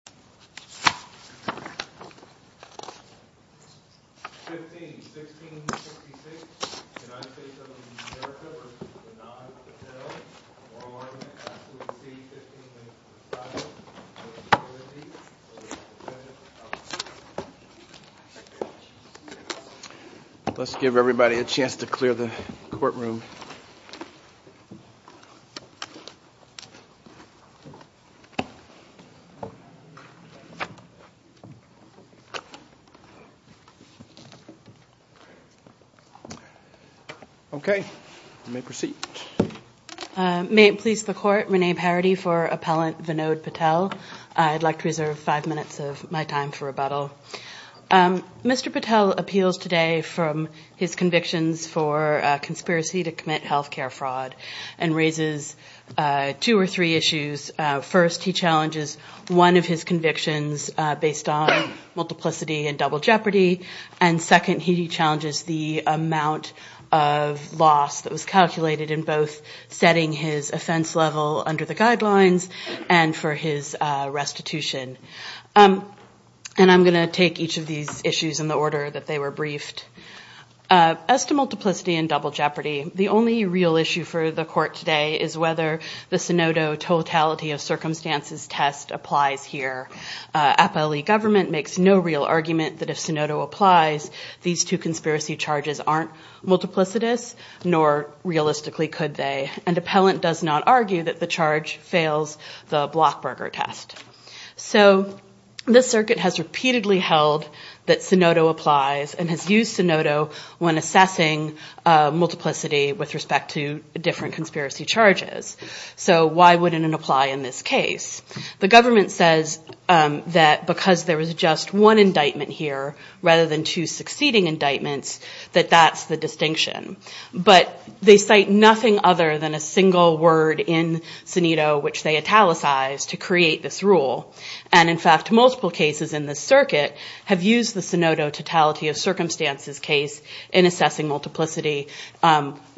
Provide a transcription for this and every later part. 15-16-66 United States v. America v. Vinod Patel Moral Argument Clause C-15-5 Motion to Overtake Motion to Second Let's give everybody a chance to clear the courtroom. Okay, you may proceed. May it please the Court, Renee Parity for Appellant Vinod Patel. I'd like to reserve five minutes of my time for rebuttal. Mr. Patel appeals today from his convictions for conspiracy to commit health care fraud and raises two or three issues. First, he challenges one of his convictions based on multiplicity and double jeopardy. And second, he challenges the amount of loss that was calculated in both setting his offense level under the guidelines and for his restitution. And I'm going to take each of these issues in the order that they were briefed. As to multiplicity and double jeopardy, the only real issue for the Court today is whether the Sunodo Totality of Circumstances test applies here. Appellee government makes no real argument that if Sunodo applies, these two conspiracy charges aren't multiplicitous, nor realistically could they. And Appellant does not argue that the charge fails the Blockburger test. So this circuit has repeatedly held that Sunodo applies and has used Sunodo when assessing multiplicity with respect to different conspiracy charges. So why wouldn't it apply in this case? The government says that because there was just one indictment here, rather than two succeeding indictments, that that's the distinction. But they cite nothing other than a single word in Sunodo which they italicized to create this rule. And in fact, multiple cases in this circuit have used the Sunodo Totality of Circumstances case in assessing multiplicity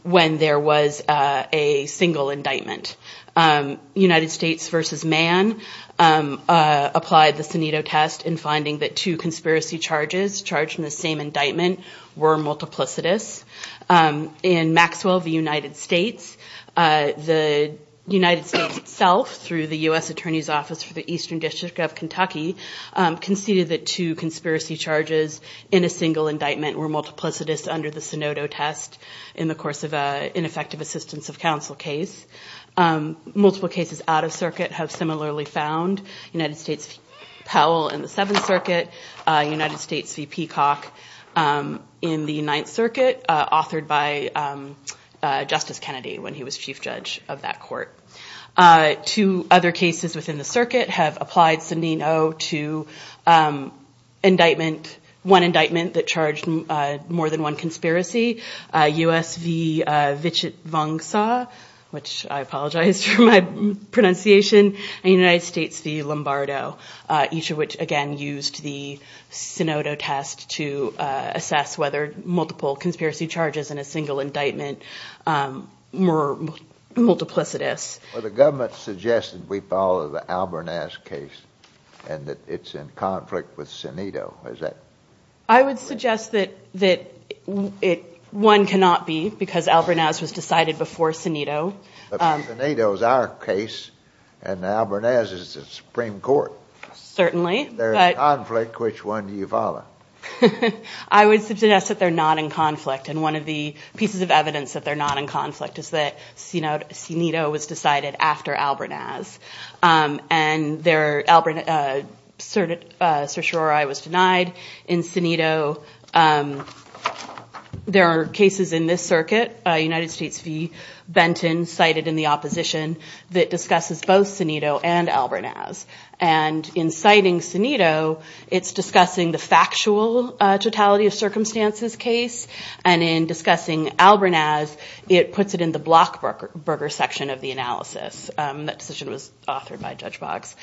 when there was a single indictment. United States v. Mann applied the Sunodo test in finding that two conspiracy charges charged in the same indictment were multiplicitous. In Maxwell v. United States, the United States itself, through the U.S. Attorney's Office for the Eastern District of Kentucky, conceded that two conspiracy charges in a single indictment were multiplicitous under the Sunodo test in the course of an ineffective assistance of counsel case. Multiple cases out of circuit have similarly found United States v. Powell in the Seventh Circuit, United States v. Peacock in the Ninth Circuit, authored by Justice Kennedy when he was chief judge of that court. Two other cases within the circuit have applied Sunodo to indictment, one indictment that charged more than one conspiracy, U.S. v. Vichitvongsa, which I apologize for my pronunciation, and United States v. Lombardo, each of which again used the Sunodo test to assess whether multiple conspiracy charges in a single indictment were multiplicitous. Well, the government suggested we follow the Albornaz case and that it's in conflict with Sunodo. I would suggest that one cannot be because Albornaz was decided before Sunodo. Sunodo is our case and Albornaz is the Supreme Court. Certainly. If they're in conflict, which one do you follow? I would suggest that they're not in conflict, and one of the pieces of evidence that they're not in conflict is that Sunodo was decided after Albornaz, and their certiorari was denied in Sunodo. There are cases in this circuit, United States v. Benton cited in the opposition, that discusses both Sunodo and Albornaz, and in citing Sunodo, it's discussing the factual totality of circumstances case, and in discussing Albornaz, it puts it in the blockburger section of the analysis. That decision was authored by Judge Boggs.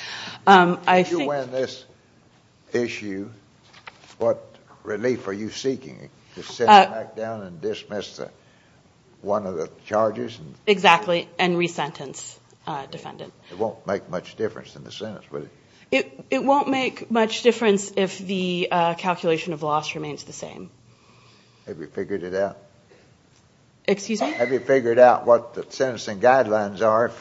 If you win this issue, what relief are you seeking, to sit back down and dismiss one of the charges? Exactly, and resentence a defendant. It won't make much difference in the sentence, will it? It won't make much difference if the calculation of loss remains the same. Have you figured it out? Excuse me? Have you figured out what the sentencing guidelines are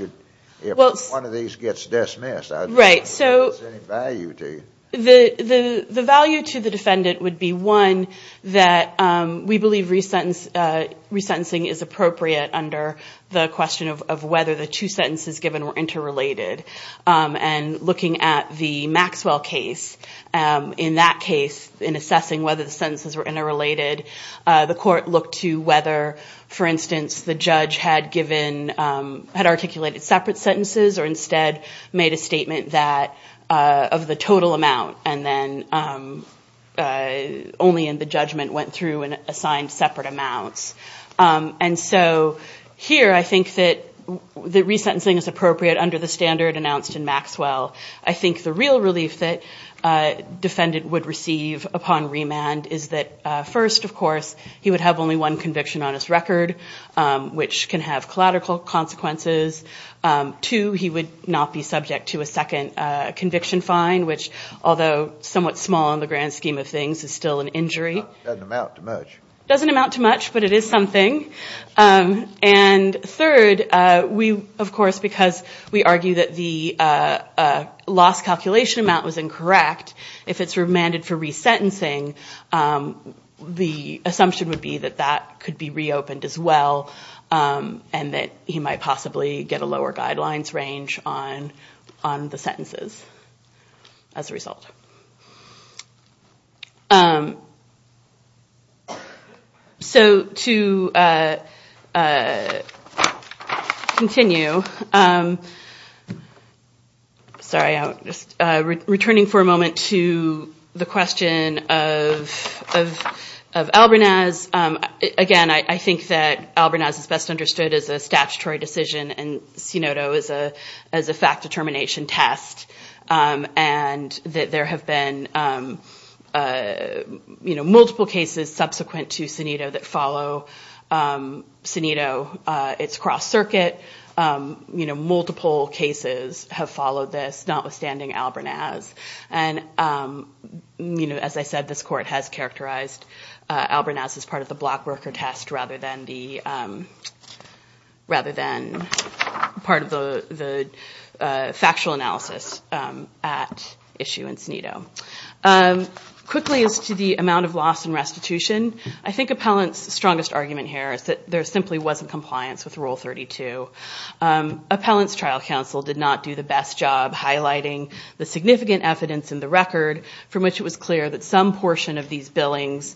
if one of these gets dismissed? Right. Is there any value to you? The value to the defendant would be, one, that we believe resentencing is appropriate under the question of whether the two sentences given were interrelated. And looking at the Maxwell case, in that case, in assessing whether the sentences were interrelated, the court looked to whether, for instance, the judge had articulated separate sentences, or instead made a statement of the total amount, and then only in the judgment went through and assigned separate amounts. And so here I think that resentencing is appropriate under the standard announced in Maxwell. I think the real relief that a defendant would receive upon remand is that, first, of course, he would have only one conviction on his record, which can have collateral consequences. Two, he would not be subject to a second conviction fine, which, although somewhat small in the grand scheme of things, is still an injury. It doesn't amount to much. It doesn't amount to much, but it is something. And third, we, of course, because we argue that the loss calculation amount was incorrect, if it's remanded for resentencing, the assumption would be that that could be reopened as well and that he might possibly get a lower guidelines range on the sentences as a result. So to continue, sorry, I'm just returning for a moment to the question of Albernaz. Again, I think that Albernaz is best understood as a statutory decision and Sinodo as a fact-determination test, and that there have been multiple cases subsequent to Sinodo that follow Sinodo. It's cross-circuit. Multiple cases have followed this, notwithstanding Albernaz. And as I said, this court has characterized Albernaz as part of the blockworker test rather than part of the factual analysis at issue in Sinodo. Quickly, as to the amount of loss in restitution, I think Appellant's strongest argument here is that there simply wasn't compliance with Rule 32. Appellant's trial counsel did not do the best job highlighting the significant evidence in the record from which it was clear that some portion of these billings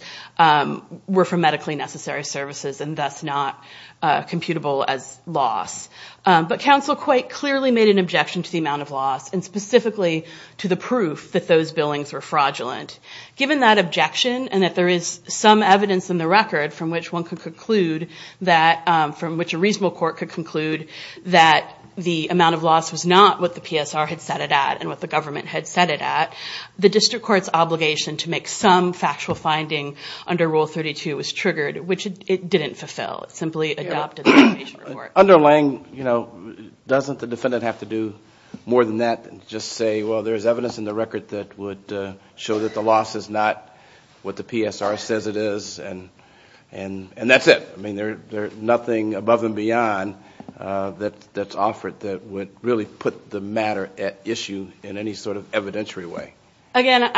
were from medically necessary services and thus not computable as loss. But counsel quite clearly made an objection to the amount of loss and specifically to the proof that those billings were fraudulent. Given that objection and that there is some evidence in the record from which a reasonable court could conclude that the amount of loss was not what the PSR had set it at and what the government had set it at, the district court's obligation to make some factual finding under Rule 32 was triggered, which it didn't fulfill. It simply adopted the patient report. Under Lange, doesn't the defendant have to do more than that and just say, well, there's evidence in the record that would show that the loss is not what the PSR says it is and that's it. I mean, there's nothing above and beyond that's offered that would really put the matter at issue in any sort of evidentiary way. Again,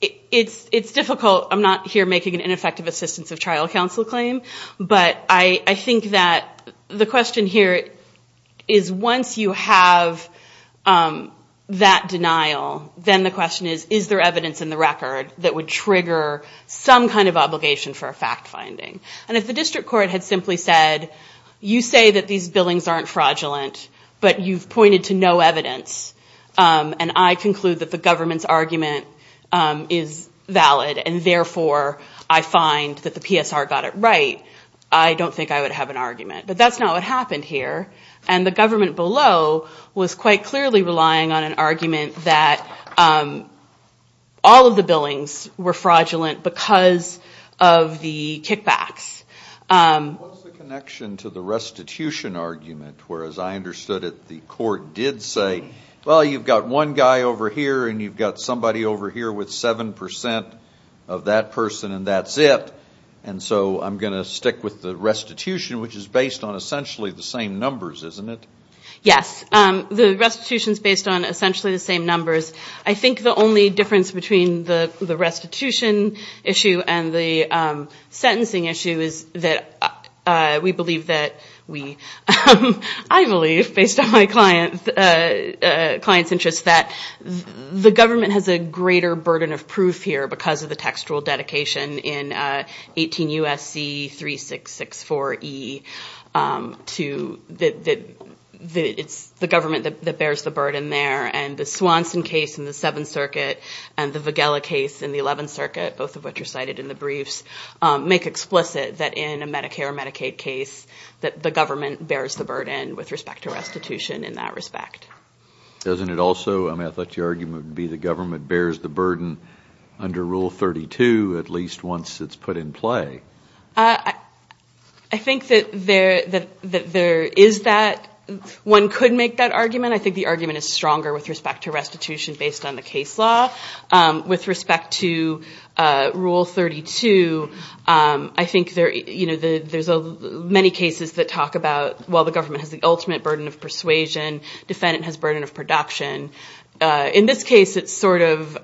it's difficult. I'm not here making an ineffective assistance of trial counsel claim, but I think that the question here is once you have that denial, then the question is, is there evidence in the record that would trigger some kind of obligation for a fact finding? And if the district court had simply said, you say that these billings aren't fraudulent, but you've pointed to no evidence and I conclude that the government's argument is valid and therefore I find that the PSR got it right, I don't think I would have an argument. But that's not what happened here. And the government below was quite clearly relying on an argument that all of the billings were fraudulent because of the kickbacks. What's the connection to the restitution argument where, as I understood it, the court did say, well, you've got one guy over here and you've got somebody over here with 7% of that person and that's it, and so I'm going to stick with the restitution, which is based on essentially the same numbers, isn't it? Yes. The restitution's based on essentially the same numbers. I think the only difference between the restitution issue and the sentencing issue is that we believe that we – I believe, based on my client's interest, that the government has a greater burden of proof here because of the textual dedication in 18 U.S.C. 3664E to – it's the government that bears the burden there. And the Swanson case in the Seventh Circuit and the Vigella case in the Eleventh Circuit, both of which are cited in the briefs, make explicit that in a Medicare or Medicaid case, that the government bears the burden with respect to restitution in that respect. Doesn't it also – I thought your argument would be the government bears the burden under Rule 32 at least once it's put in play. I think that there is that – one could make that argument. I think the argument is stronger with respect to restitution based on the case law. With respect to Rule 32, I think there's many cases that talk about, well, the government has the ultimate burden of persuasion. Defendant has burden of production. In this case, it's sort of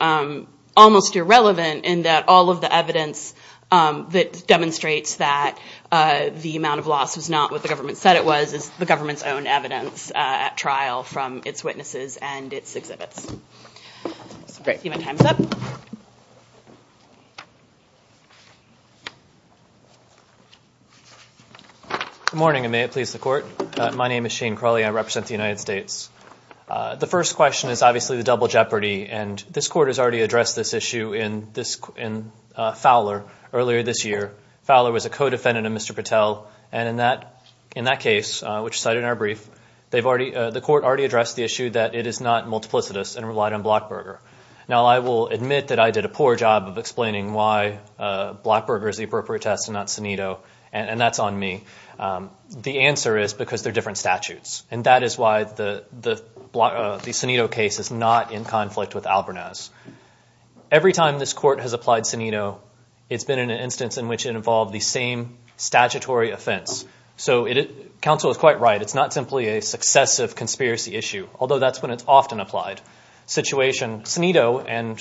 almost irrelevant in that all of the evidence that demonstrates that the amount of loss was not what the government said it was is the government's own evidence at trial from its witnesses and its exhibits. Great. Good morning, and may it please the Court. My name is Shane Crawley. I represent the United States. The first question is obviously the double jeopardy, and this Court has already addressed this issue in Fowler earlier this year. Fowler was a co-defendant of Mr. Patel, and in that case, which is cited in our brief, the Court already addressed the issue that it is not multiplicitous and relied on Blockberger. Now, I will admit that I did a poor job of explaining why Blockberger is the appropriate test and not Senito, and that's on me. The answer is because they're different statutes, and that is why the Senito case is not in conflict with Albernaz. Every time this Court has applied Senito, it's been in an instance in which it involved the same statutory offense. Counsel is quite right. It's not simply a successive conspiracy issue, although that's when it's often applied. Senito and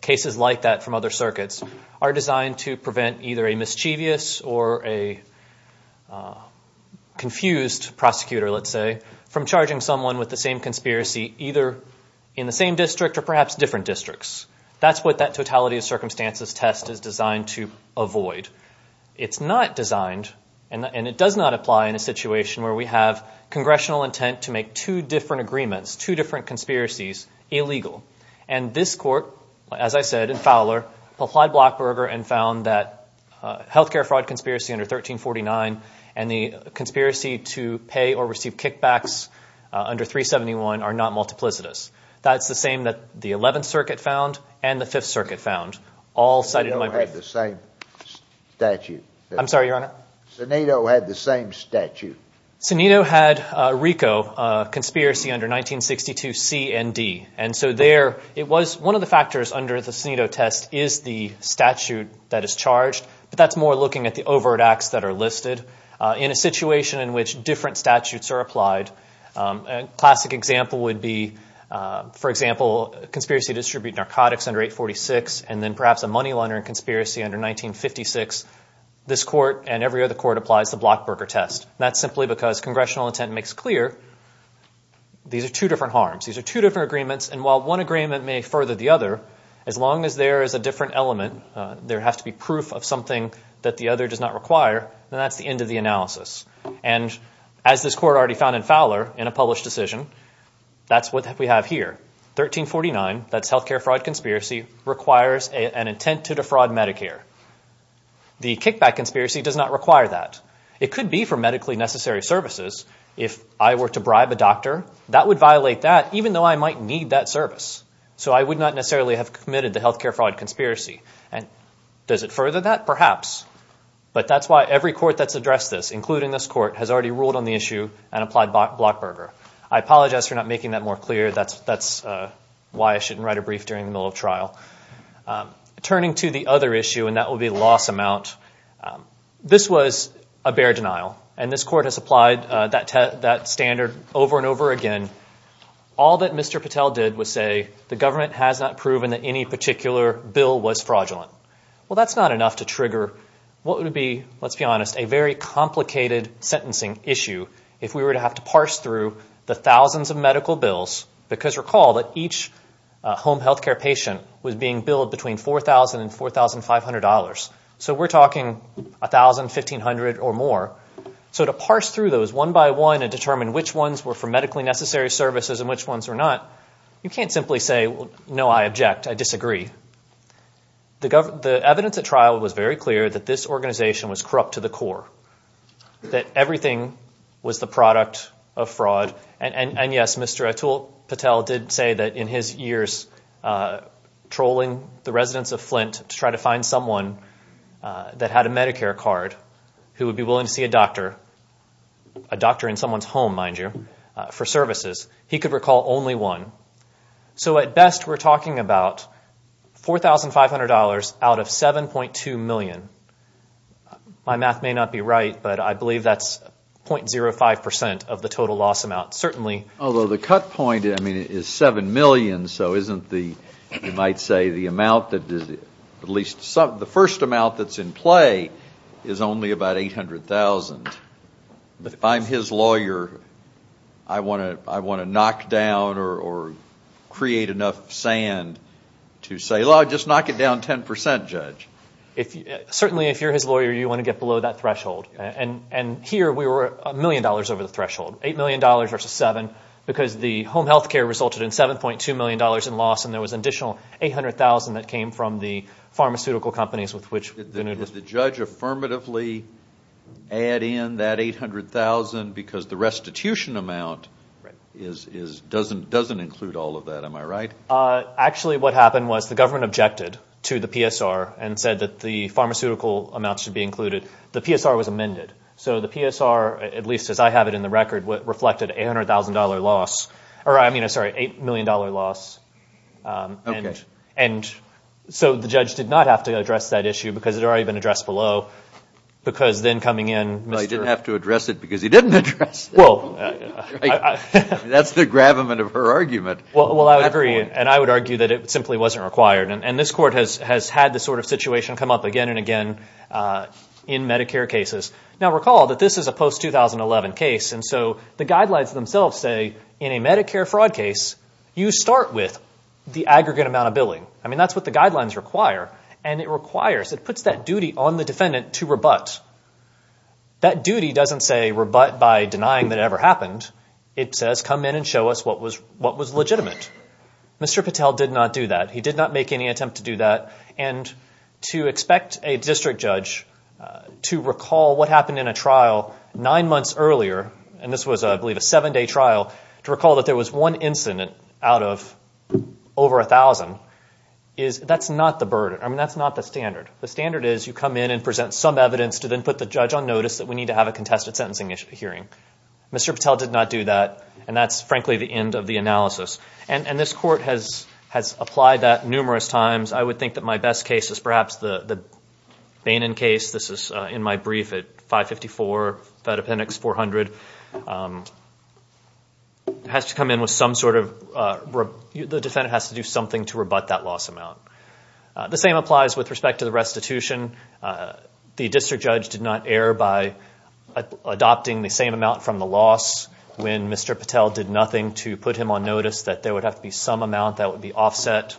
cases like that from other circuits are designed to prevent either a mischievous or a confused prosecutor, let's say, from charging someone with the same conspiracy either in the same district or perhaps different districts. That's what that totality of circumstances test is designed to avoid. It's not designed, and it does not apply in a situation where we have congressional intent to make two different agreements, two different conspiracies, illegal. And this Court, as I said, in Fowler, applied Blockberger and found that health care fraud conspiracy under 1349 and the conspiracy to pay or receive kickbacks under 371 are not multiplicitous. That's the same that the Eleventh Circuit found and the Fifth Circuit found, all cited in my brief. Senito had the same statute. I'm sorry, Your Honor? Senito had the same statute. Senito had RICO conspiracy under 1962 C and D. And so there, it was one of the factors under the Senito test is the statute that is charged, but that's more looking at the overt acts that are listed. In a situation in which different statutes are applied, a classic example would be, for example, a conspiracy to distribute narcotics under 846 and then perhaps a money laundering conspiracy under 1956, this Court and every other Court applies the Blockberger test. That's simply because congressional intent makes clear these are two different harms. These are two different agreements, and while one agreement may further the other, as long as there is a different element, there has to be proof of something that the other does not require, then that's the end of the analysis. And as this Court already found in Fowler in a published decision, that's what we have here. 1349, that's health care fraud conspiracy, requires an intent to defraud Medicare. The kickback conspiracy does not require that. It could be for medically necessary services. If I were to bribe a doctor, that would violate that, even though I might need that service. So I would not necessarily have committed the health care fraud conspiracy. Does it further that? Perhaps. But that's why every Court that's addressed this, including this Court, has already ruled on the issue and applied Blockberger. I apologize for not making that more clear. That's why I shouldn't write a brief during the middle of trial. Turning to the other issue, and that will be loss amount, this was a bare denial, and this Court has applied that standard over and over again. All that Mr. Patel did was say the government has not proven that any particular bill was fraudulent. Well, that's not enough to trigger what would be, let's be honest, a very complicated sentencing issue if we were to have to parse through the thousands of medical bills, because recall that each home health care patient was being billed between $4,000 and $4,500. So we're talking $1,000, $1,500, or more. So to parse through those one by one and determine which ones were for medically necessary services and which ones were not, you can't simply say, no, I object, I disagree. The evidence at trial was very clear that this organization was corrupt to the core, that everything was the product of fraud, and yes, Mr. Atul Patel did say that in his years trolling the residents of Flint to try to find someone that had a Medicare card who would be willing to see a doctor, a doctor in someone's home, mind you, for services. He could recall only one. So at best we're talking about $4,500 out of $7.2 million. My math may not be right, but I believe that's .05% of the total loss amount, certainly. Although the cut point is $7 million, so isn't the, you might say, the amount that, at least the first amount that's in play is only about $800,000. If I'm his lawyer, I want to knock down or create enough sand to say, well, I'd just knock it down 10%, Judge. Certainly, if you're his lawyer, you want to get below that threshold. And here we were $1 million over the threshold, $8 million versus $7,000, because the home health care resulted in $7.2 million in loss, and there was an additional $800,000 that came from the pharmaceutical companies with which. Did the judge affirmatively add in that $800,000 because the restitution amount doesn't include all of that, am I right? Actually, what happened was the government objected to the PSR and said that the pharmaceutical amounts should be included. The PSR was amended. So the PSR, at least as I have it in the record, reflected $800,000 loss, or I mean, sorry, $8 million loss. Okay. And so the judge did not have to address that issue because it had already been addressed below, because then coming in Mr. Well, he didn't have to address it because he didn't address it. Well, I. That's the gravamen of her argument. Well, I would agree, and I would argue that it simply wasn't required, and this court has had this sort of situation come up again and again in Medicare cases. Now, recall that this is a post-2011 case, and so the guidelines themselves say in a Medicare fraud case, you start with the aggregate amount of billing. I mean, that's what the guidelines require, and it requires, it puts that duty on the defendant to rebut. That duty doesn't say rebut by denying that it ever happened. It says come in and show us what was legitimate. Mr. Patel did not do that. He did not make any attempt to do that, and to expect a district judge to recall what happened in a trial nine months earlier, and this was, I believe, a seven-day trial, to recall that there was one incident out of over 1,000, that's not the burden. I mean, that's not the standard. The standard is you come in and present some evidence to then put the judge on notice that we need to have a contested sentencing hearing. Mr. Patel did not do that, and that's, frankly, the end of the analysis. And this court has applied that numerous times. I would think that my best case is perhaps the Bainon case. This is in my brief at 554 Fed Appendix 400. It has to come in with some sort of, the defendant has to do something to rebut that loss amount. The same applies with respect to the restitution. The district judge did not err by adopting the same amount from the loss when Mr. Patel did nothing to put him on notice that there would have to be some amount that would be offset.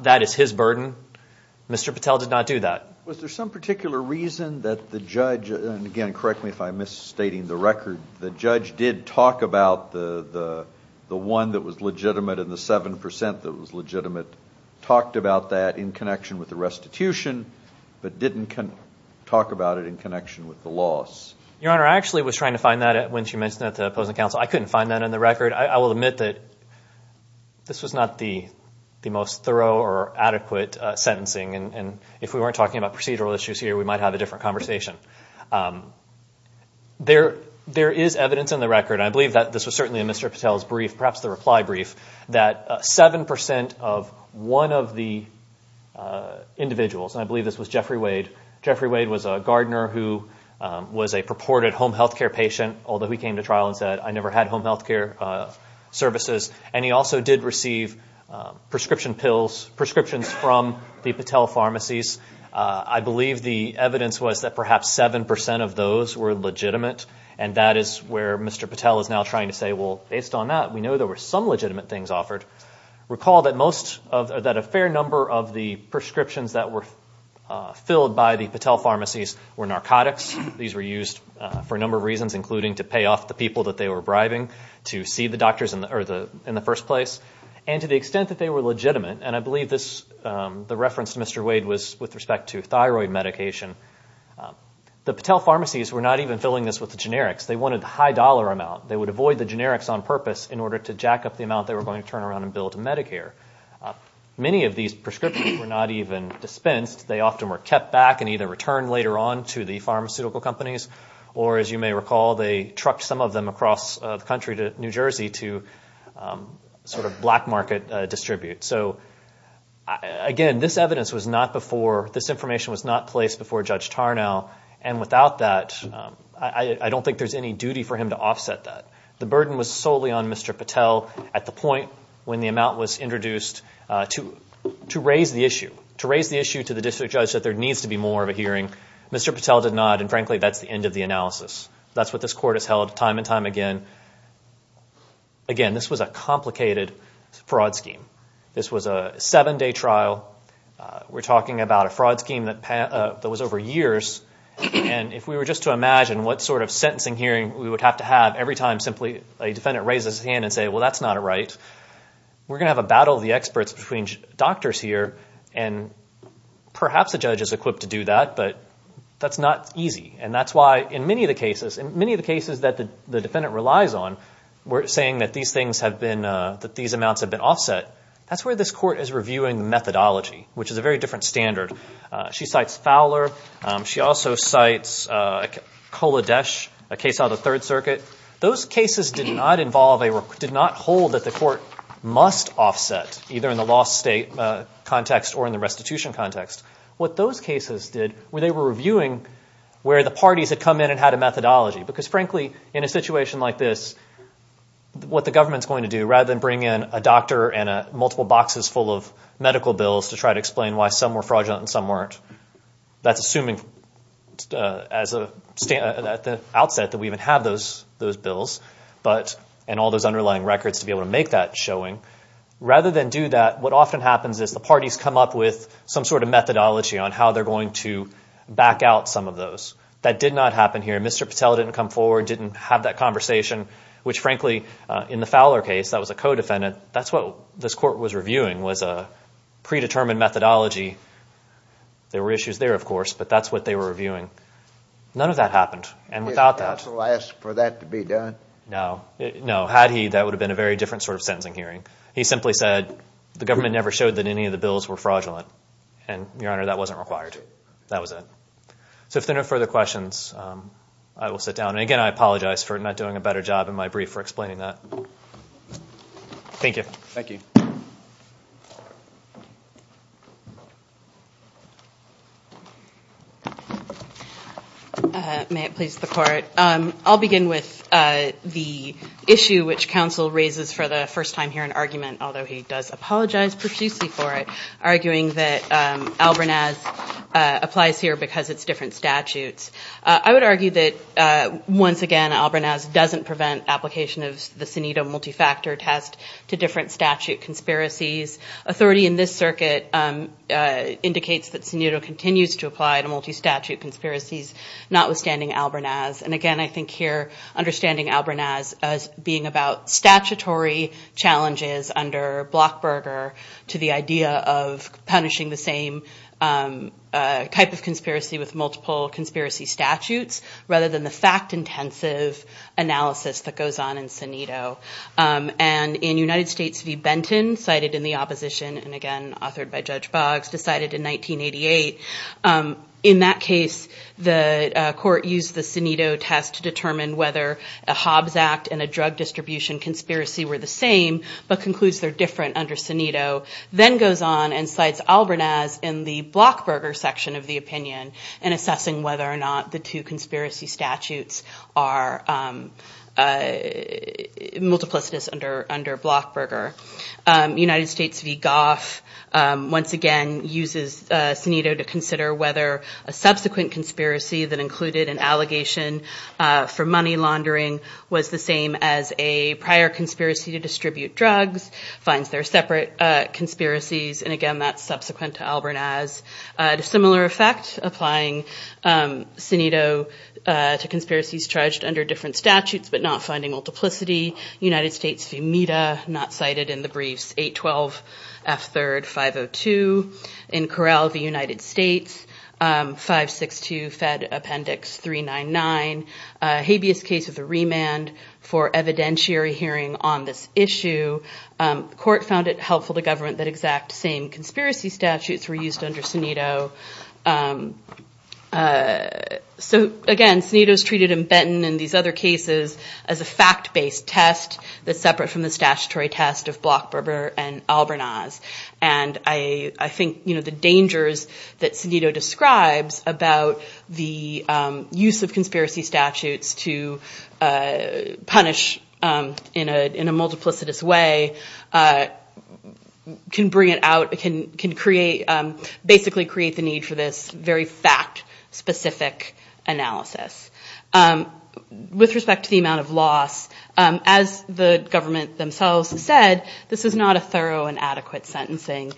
That is his burden. Mr. Patel did not do that. Was there some particular reason that the judge, and again correct me if I'm misstating the record, the judge did talk about the one that was legitimate and the 7% that was legitimate, talked about that in connection with the restitution, but didn't talk about it in connection with the loss? Your Honor, I actually was trying to find that when she mentioned that to opposing counsel. I couldn't find that in the record. I will admit that this was not the most thorough or adequate sentencing, and if we weren't talking about procedural issues here, we might have a different conversation. There is evidence in the record, and I believe that this was certainly in Mr. Patel's brief, perhaps the reply brief, that 7% of one of the individuals, and I believe this was Jeffrey Wade. Jeffrey Wade was a gardener who was a purported home health care patient, although he came to trial and said, I never had home health care services, and he also did receive prescription pills, prescriptions from the Patel pharmacies. I believe the evidence was that perhaps 7% of those were legitimate, and that is where Mr. Patel is now trying to say, well, based on that, we know there were some legitimate things offered. Recall that a fair number of the prescriptions that were filled by the Patel pharmacies were narcotics. These were used for a number of reasons, including to pay off the people that they were bribing, to see the doctors in the first place. And to the extent that they were legitimate, and I believe the reference to Mr. Wade was with respect to thyroid medication, the Patel pharmacies were not even filling this with the generics. They wanted the high dollar amount. They would avoid the generics on purpose in order to jack up the amount they were going to turn around and bill to Medicare. Many of these prescriptions were not even dispensed. They often were kept back and either returned later on to the pharmaceutical companies, or as you may recall, they trucked some of them across the country to New Jersey to sort of black market distribute. So, again, this evidence was not before, this information was not placed before Judge Tarnow, and without that, I don't think there's any duty for him to offset that. The burden was solely on Mr. Patel at the point when the amount was introduced to raise the issue, to raise the issue to the district judge that there needs to be more of a hearing. Mr. Patel did not, and frankly, that's the end of the analysis. That's what this court has held time and time again. Again, this was a complicated fraud scheme. This was a seven-day trial. We're talking about a fraud scheme that was over years, and if we were just to imagine what sort of sentencing hearing we would have to have every time simply a defendant raises his hand and say, well, that's not a right, we're going to have a battle of the experts between doctors here, and perhaps a judge is equipped to do that, but that's not easy. And that's why in many of the cases, in many of the cases that the defendant relies on, we're saying that these things have been, that these amounts have been offset. That's where this court is reviewing the methodology, which is a very different standard. She cites Fowler. She also cites Kolodesh, a case out of the Third Circuit. Those cases did not involve a, did not hold that the court must offset, either in the lost state context or in the restitution context. What those cases did were they were reviewing where the parties had come in and had a methodology, because frankly, in a situation like this, what the government's going to do, they're going to have a paper and multiple boxes full of medical bills to try to explain why some were fraudulent and some weren't. That's assuming at the outset that we even have those bills, and all those underlying records to be able to make that showing. Rather than do that, what often happens is the parties come up with some sort of methodology on how they're going to back out some of those. That did not happen here. Mr. Patel didn't come forward, didn't have that conversation, which frankly, in the Fowler case, that was a co-defendant. That's what this court was reviewing was a predetermined methodology. There were issues there, of course, but that's what they were reviewing. None of that happened. And without that— Did the counsel ask for that to be done? No. Had he, that would have been a very different sort of sentencing hearing. He simply said the government never showed that any of the bills were fraudulent. And, Your Honor, that wasn't required. That was it. So if there are no further questions, I will sit down. Again, I apologize for not doing a better job in my brief for explaining that. Thank you. Thank you. May it please the Court. I'll begin with the issue which counsel raises for the first time here in argument, although he does apologize profusely for it, arguing that Albernaz applies here because it's different statutes. I would argue that, once again, Albernaz doesn't prevent application of the Senito multifactor test to different statute conspiracies. Authority in this circuit indicates that Senito continues to apply to multistatute conspiracies, notwithstanding Albernaz. And, again, I think here understanding Albernaz as being about statutory challenges under Blockberger to the idea of punishing the same type of conspiracy with multiple conspiracy statutes, rather than the fact-intensive analysis that goes on in Senito. And in United States v. Benton, cited in the opposition and, again, authored by Judge Boggs, decided in 1988, in that case the Court used the Senito test to determine whether a Hobbs Act and a drug distribution conspiracy were the same, but concludes they're different under Senito. Then goes on and cites Albernaz in the Blockberger section of the opinion in assessing whether or not the two conspiracy statutes are multiplicitous under Blockberger. United States v. Goff, once again, uses Senito to consider whether a subsequent conspiracy that included an allegation for money laundering was the same as a prior conspiracy to distribute drugs, finds they're separate conspiracies, and, again, that's subsequent to Albernaz. A similar effect, applying Senito to conspiracies charged under different statutes but not finding multiplicity. United States v. Mita, not cited in the briefs 812 F. 3rd 502. In Correll, the United States, 562 Fed Appendix 399, habeas case of the remand for evidentiary hearing on this issue. The Court found it helpful to government that exact same conspiracy statutes were used under Senito. So, again, Senito is treated in Benton and these other cases as a fact-based test that's separate from the statutory test of Blockberger and Albernaz. And I think the dangers that Senito describes about the use of conspiracy statutes to punish in a multiplicitous way can bring it out, can basically create the need for this very fact-specific analysis. With respect to the amount of loss, as the government themselves said, this is not a thorough and adequate sentencing.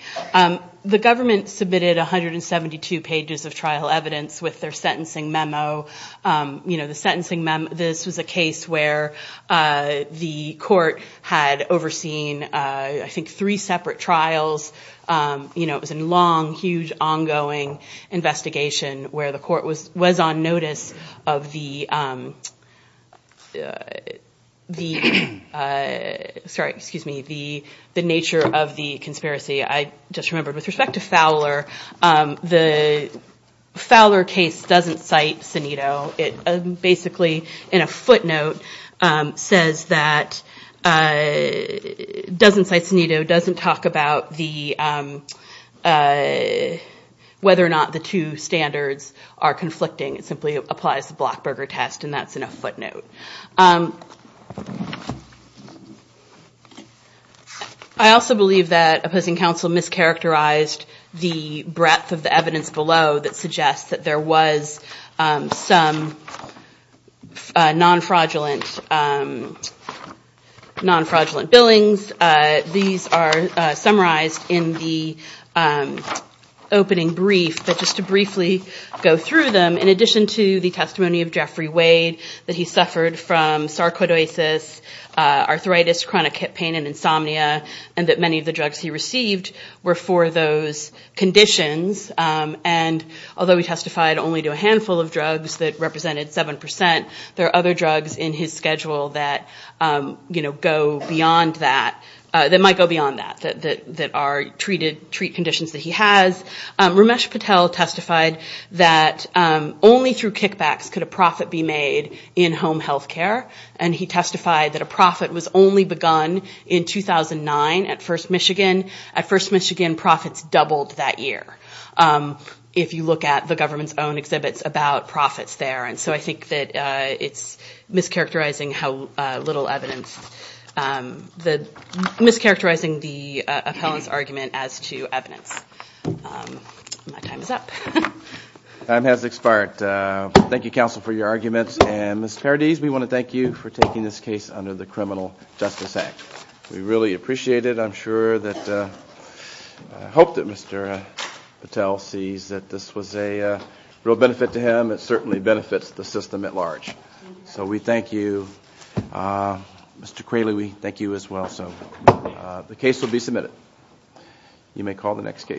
The government submitted 172 pages of trial evidence with their sentencing memo. This was a case where the Court had overseen, I think, three separate trials. It was a long, huge, ongoing investigation where the Court was on notice of the nature of the conspiracy. I just remembered, with respect to Fowler, the Fowler case doesn't cite Senito. It basically, in a footnote, doesn't cite Senito, doesn't talk about whether or not the two standards are conflicting. It simply applies the Blockberger test, and that's in a footnote. I also believe that opposing counsel mischaracterized the breadth of the evidence below that suggests that there was some non-fraudulent billings. These are summarized in the opening brief. But just to briefly go through them, in addition to the testimony of Jeffrey Wade, that he suffered from sarcoidosis, arthritis, chronic hip pain, and insomnia, and that many of the drugs he received were for those conditions. Although he testified only to a handful of drugs that represented 7 percent, there are other drugs in his schedule that might go beyond that, that are treat conditions that he has. Ramesh Patel testified that only through kickbacks could a profit be made in home health care. And he testified that a profit was only begun in 2009 at First Michigan. At First Michigan, profits doubled that year, if you look at the government's own exhibits about profits there. And so I think that it's mischaracterizing the appellant's argument as to evidence. My time is up. Time has expired. Thank you, counsel, for your arguments. And Ms. Paradis, we want to thank you for taking this case under the Criminal Justice Act. We really appreciate it. I'm sure that, I hope that Mr. Patel sees that this was a real benefit to him. It certainly benefits the system at large. So we thank you. Mr. Qualey, we thank you as well. So the case will be submitted. You may call the next case.